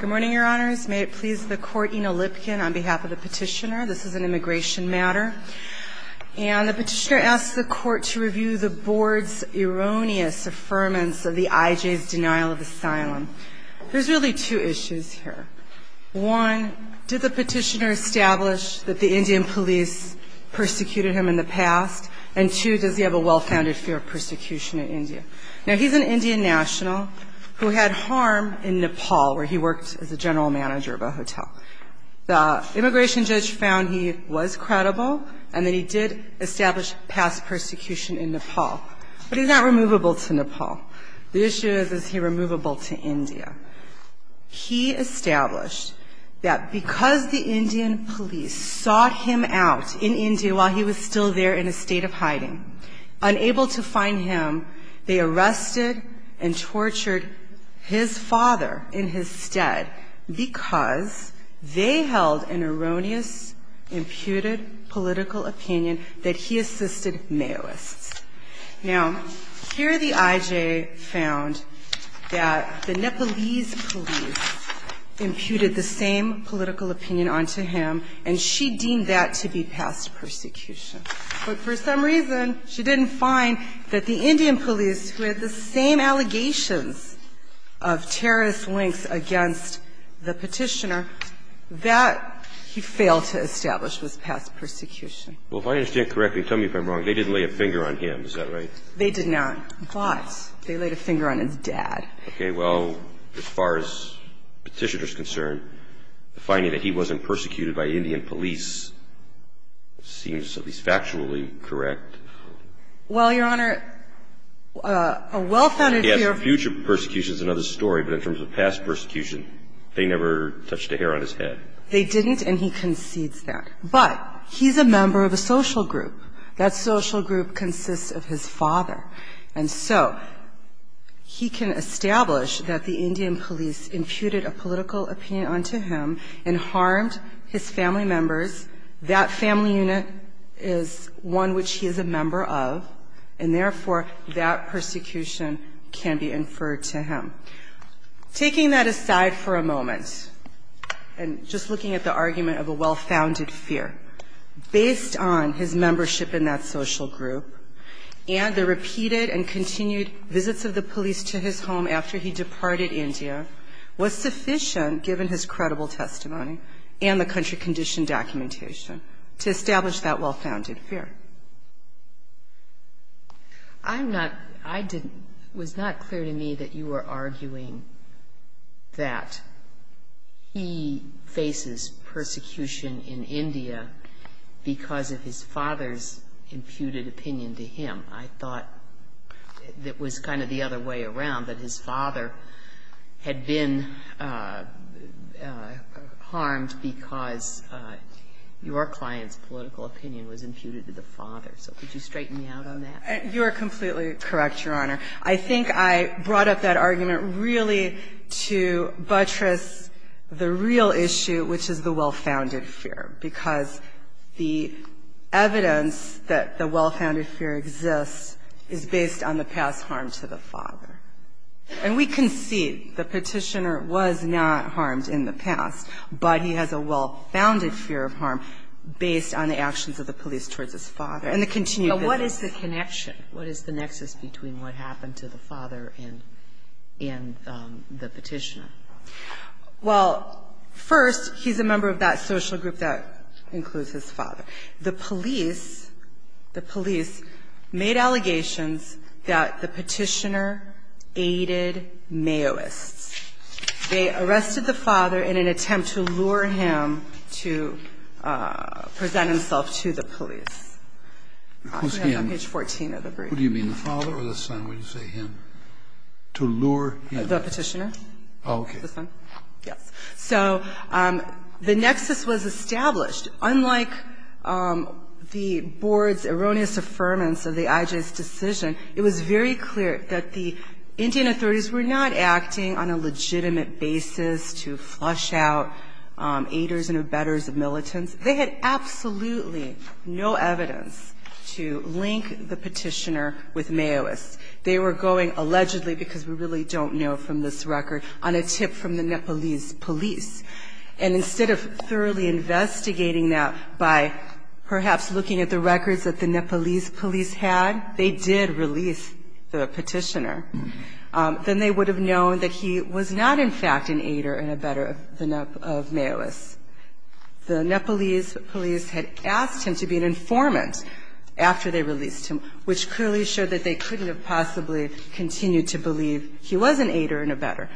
Good morning, Your Honors. May it please the Court, Ina Lipkin on behalf of the petitioner. This is an immigration matter. And the petitioner asks the Court to review the Board's erroneous affirmance of the IJ's denial of asylum. There's really two issues here. One, did the petitioner establish that the Indian police persecuted him in the past? And two, does he have a well-founded fear of persecution in India? Now, he's an Indian national who had harm in Nepal, where he worked as a general manager of a hotel. The immigration judge found he was credible and that he did establish past persecution in Nepal. But he's not removable to Nepal. The issue is, is he removable to India? He established that because the Indian police sought him out in India while he was still there in a state of hiding, unable to find him, they arrested and tortured his father in his stead because they held an erroneous imputed political opinion that he assisted Maoists. Now, here the IJ found that the Nepalese police imputed the same political opinion onto him, and she deemed that to be past persecution. But for some reason, she didn't find that the Indian police, who had the same allegations of terrorist links against the petitioner, that he failed to establish was past persecution. Well, if I understand correctly, tell me if I'm wrong, they didn't lay a finger on him. Is that right? They did not. But they laid a finger on his dad. Okay. Well, as far as the petitioner is concerned, the finding that he wasn't persecuted by Indian police seems at least factually correct. Well, Your Honor, a well-founded fear of the future persecution is another story, but in terms of past persecution, they never touched a hair on his head. They didn't, and he concedes that. But he's a member of a social group. That social group consists of his father. And so he can establish that the Indian police imputed a political opinion onto him and harmed his family members. That family unit is one which he is a member of, and therefore, that persecution can be inferred to him. Taking that aside for a moment, and just looking at the argument of a well-founded fear, based on his membership in that social group and the repeated and continued visits of the police to his home after he departed India was sufficient, given his credible testimony and the country condition documentation, to establish that well-founded fear. I'm not – I didn't – it was not clear to me that you were arguing that he faces persecution in India because of his father's imputed opinion to him. I thought it was kind of the other way around, that his father had been harmed because your client's political opinion was imputed to the father. So could you straighten me out on that? You are completely correct, Your Honor. I think I brought up that argument really to buttress the real issue, which is the well-founded fear exists, is based on the past harm to the father. And we can see the petitioner was not harmed in the past, but he has a well-founded fear of harm based on the actions of the police towards his father and the continued visits. But what is the connection? What is the nexus between what happened to the father and the petitioner? Well, first, he's a member of that social group that includes his father. The police – the police made allegations that the petitioner aided Mayoists. They arrested the father in an attempt to lure him to present himself to the police. Who's him? Page 14 of the brief. Who do you mean, the father or the son? When you say him, to lure him? The petitioner. Oh, okay. The son, yes. So the nexus was established. Unlike the board's erroneous affirmance of the IJ's decision, it was very clear that the Indian authorities were not acting on a legitimate basis to flush out aiders and abettors of militants. They had absolutely no evidence to link the petitioner with Mayoists. They were going allegedly, because we really don't know from this record, on a tip from the Nepalese police. And instead of thoroughly investigating that by perhaps looking at the records that the Nepalese police had, they did release the petitioner. Then they would have known that he was not, in fact, an aider and abettor of Mayoists. The Nepalese police had asked him to be an informant after they released him, which clearly showed that they couldn't have possibly continued to believe he was an aider and abettor.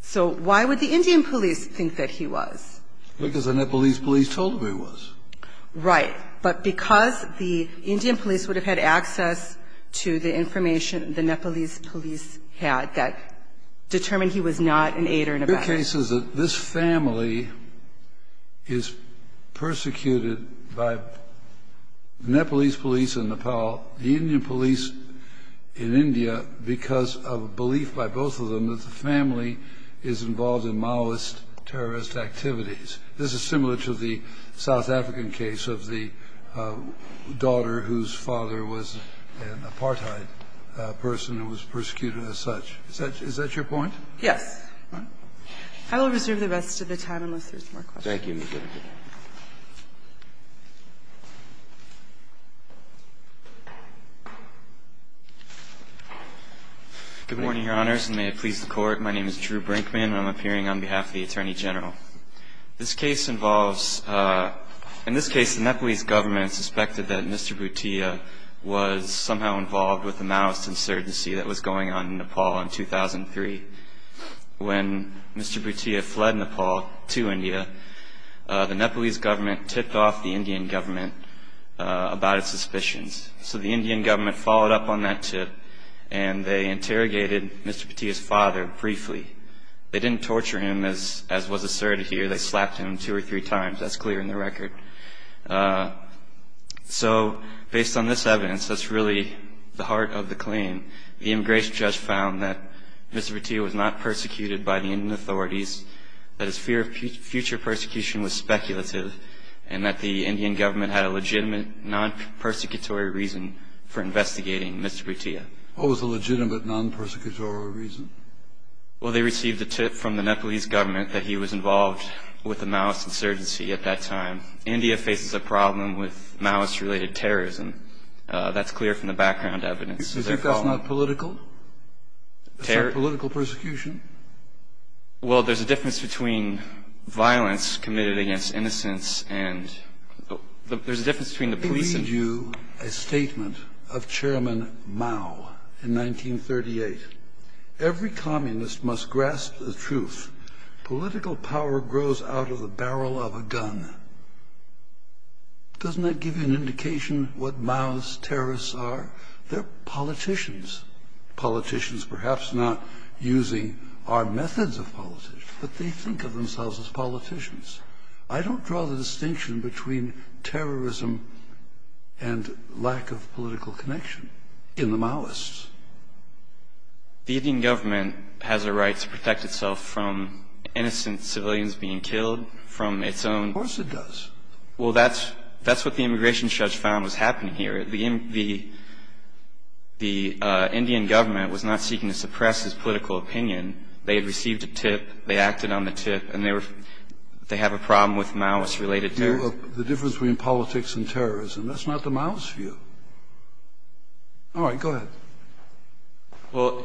So why would the Indian police think that he was? Because the Nepalese police told them he was. Right. But because the Indian police would have had access to the information the Nepalese police had that determined he was not an aider and abettor. The case is that this family is persecuted by the Nepalese police in Nepal, the Indian police in India, because of a belief by both of them that the family is involved in Mayoist terrorist activities. This is similar to the South African case of the daughter whose father was an apartheid person who was persecuted as such. Is that your point? Yes. I will reserve the rest of the time unless there's more questions. Thank you, Ms. Kennedy. Good morning, Your Honors, and may it please the Court. My name is Drew Brinkman. I'm appearing on behalf of the Attorney General. This case involves – in this case, the Nepalese government suspected that Mr. Bhutia was somehow involved with the Mayoist insurgency that was going on in Nepal in 2003. When Mr. Bhutia fled Nepal to India, the Nepalese government tipped off the Indian government about its suspicions. So the Indian government followed up on that tip, and they interrogated Mr. Bhutia's father briefly. They didn't torture him, as was asserted here. They slapped him two or three times. That's clear in the record. So based on this evidence, that's really the heart of the claim. The immigration judge found that Mr. Bhutia was not persecuted by the Indian authorities, that his fear of future persecution was speculative, and that the Indian government had a legitimate non-persecutory reason for investigating Mr. Bhutia. What was the legitimate non-persecutory reason? Well, they received a tip from the Nepalese government that he was involved with the Mayoist insurgency at that time. India faces a problem with Mayoist-related terrorism. That's clear from the background evidence. Is that not political? Is that political persecution? Well, there's a difference between violence committed against innocents, and there's a difference between the police and... Let me read you a statement of Chairman Mao in 1938. Every communist must grasp the truth. Political power grows out of the barrel of a gun. Doesn't that give you an indication what Mao's terrorists are? They're politicians, politicians perhaps not using our methods of politics, but they think of themselves as politicians. I don't draw the distinction between terrorism and lack of political connection in the Maoists. The Indian government has a right to protect itself from innocent civilians being killed from its own... Of course it does. Well, that's what the immigration judge found was happening here. The Indian government was not seeking to suppress his political opinion. They had received a tip. They acted on the tip. And they have a problem with Mayoist-related terrorism. The difference between politics and terrorism, that's not the Mayoist view. All right. Go ahead. Well,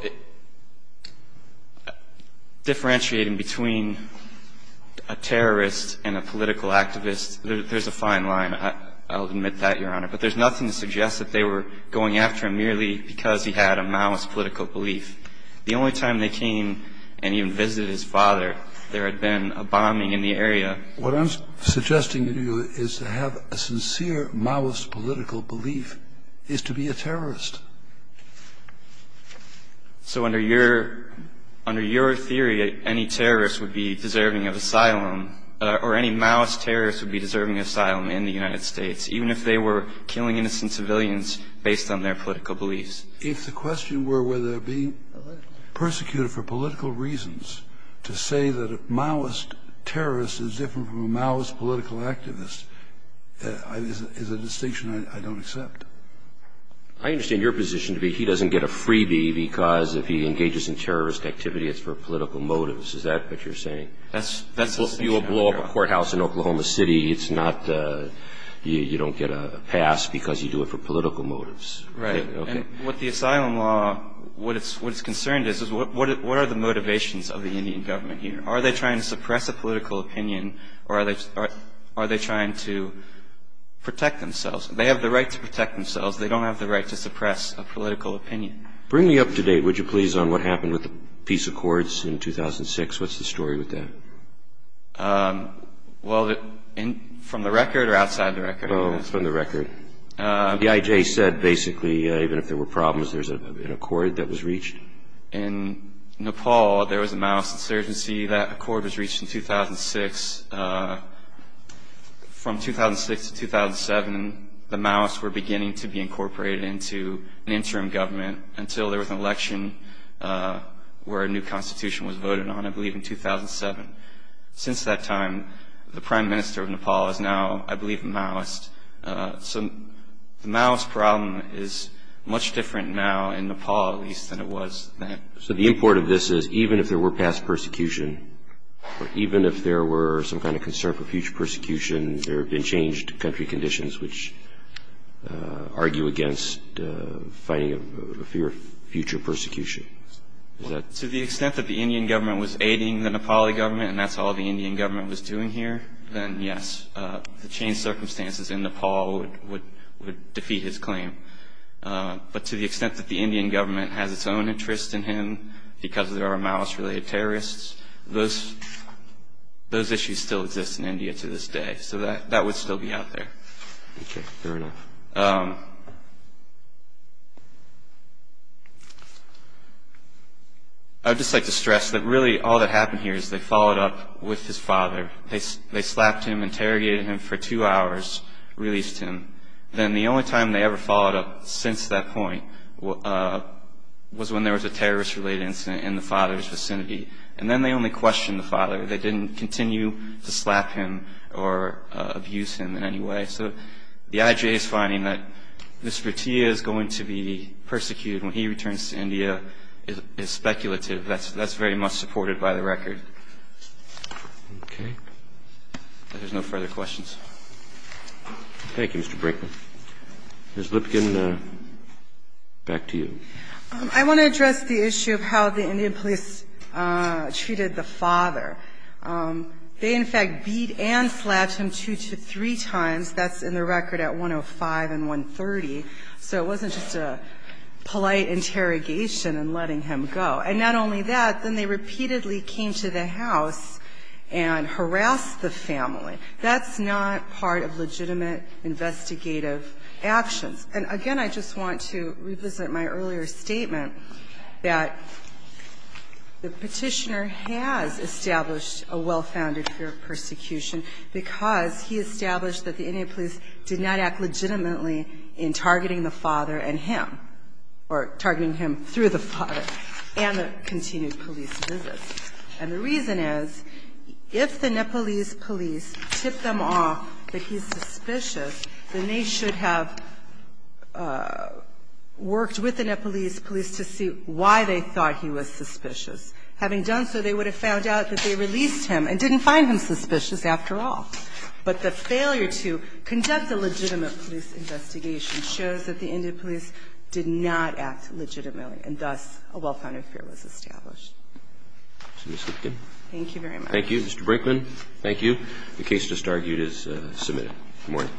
differentiating between a terrorist and a political activist, there's a fine line. I'll admit that, Your Honor. But there's nothing to suggest that they were going after him merely because he had a Maoist political belief. The only time they came and even visited his father, there had been a bombing in the area. What I'm suggesting to you is to have a sincere Maoist political belief is to be a terrorist. So under your theory, any terrorist would be deserving of asylum, or any Maoist terrorist would be deserving of asylum in the United States, even if they were killing innocent civilians based on their political beliefs. If the question were whether being persecuted for political reasons to say that a Maoist terrorist is different from a Maoist political activist is a distinction I don't accept. I understand your position to be he doesn't get a freebie because if he engages in terrorist activity, it's for political motives. Is that what you're saying? That's the distinction, Your Honor. If you have a courthouse in Oklahoma City, you don't get a pass because you do it for political motives. Right. And with the asylum law, what is concerned is what are the motivations of the Indian government here? Are they trying to suppress a political opinion or are they trying to protect themselves? They have the right to protect themselves. They don't have the right to suppress a political opinion. Bring me up to date, would you please, on what happened with the peace accords in 2006? What's the story with that? Well, from the record or outside the record? From the record. The IJ said basically even if there were problems, there's an accord that was reached. In Nepal, there was a Maoist insurgency. That accord was reached in 2006. From 2006 to 2007, the Maoists were beginning to be incorporated into an interim government until there was an election where a new constitution was voted on, I believe in 2007. Since that time, the prime minister of Nepal is now, I believe, a Maoist. So the Maoist problem is much different now in Nepal, at least, than it was then. So the import of this is even if there were past persecution, or even if there were some kind of concern for future persecution, there have been changed country conditions which argue against fighting future persecution. To the extent that the Indian government was aiding the Nepali government and that's all the Indian government was doing here, then yes. The changed circumstances in Nepal would defeat his claim. But to the extent that the Indian government has its own interest in him because there are Maoist-related terrorists, those issues still exist in India to this day. So that would still be out there. Okay. Fair enough. I would just like to stress that really all that happened here is they followed up with his father. They slapped him, interrogated him for two hours, released him. Then the only time they ever followed up since that point was when there was a terrorist-related incident in the father's vicinity. And then they only questioned the father. They didn't continue to slap him or abuse him in any way. So the IJA is finding that Mr. Bhatia is going to be persecuted when he returns to India is speculative. That's very much supported by the record. Okay. If there's no further questions. Thank you, Mr. Brinkman. Ms. Lipkin, back to you. I want to address the issue of how the Indian police treated the father. They, in fact, beat and slapped him two to three times. That's in the record at 105 and 130. So it wasn't just a polite interrogation and letting him go. And not only that, then they repeatedly came to the house and harassed the family. That's not part of legitimate investigative actions. And, again, I just want to revisit my earlier statement that the Petitioner has established a well-founded fear of persecution because he established that the Indian police did not act legitimately in targeting the father and him, or targeting him through the father and the continued police visits. And the reason is, if the Nepalese police tip them off that he's suspicious, then they should have worked with the Nepalese police to see why they thought he was suspicious. Having done so, they would have found out that they released him and didn't find him suspicious after all. But the failure to conduct a legitimate police investigation shows that the Indian police did not act legitimately, and thus a well-founded fear was established. Ms. Lipkin. Thank you very much. Thank you. Mr. Brinkman, thank you. Good morning.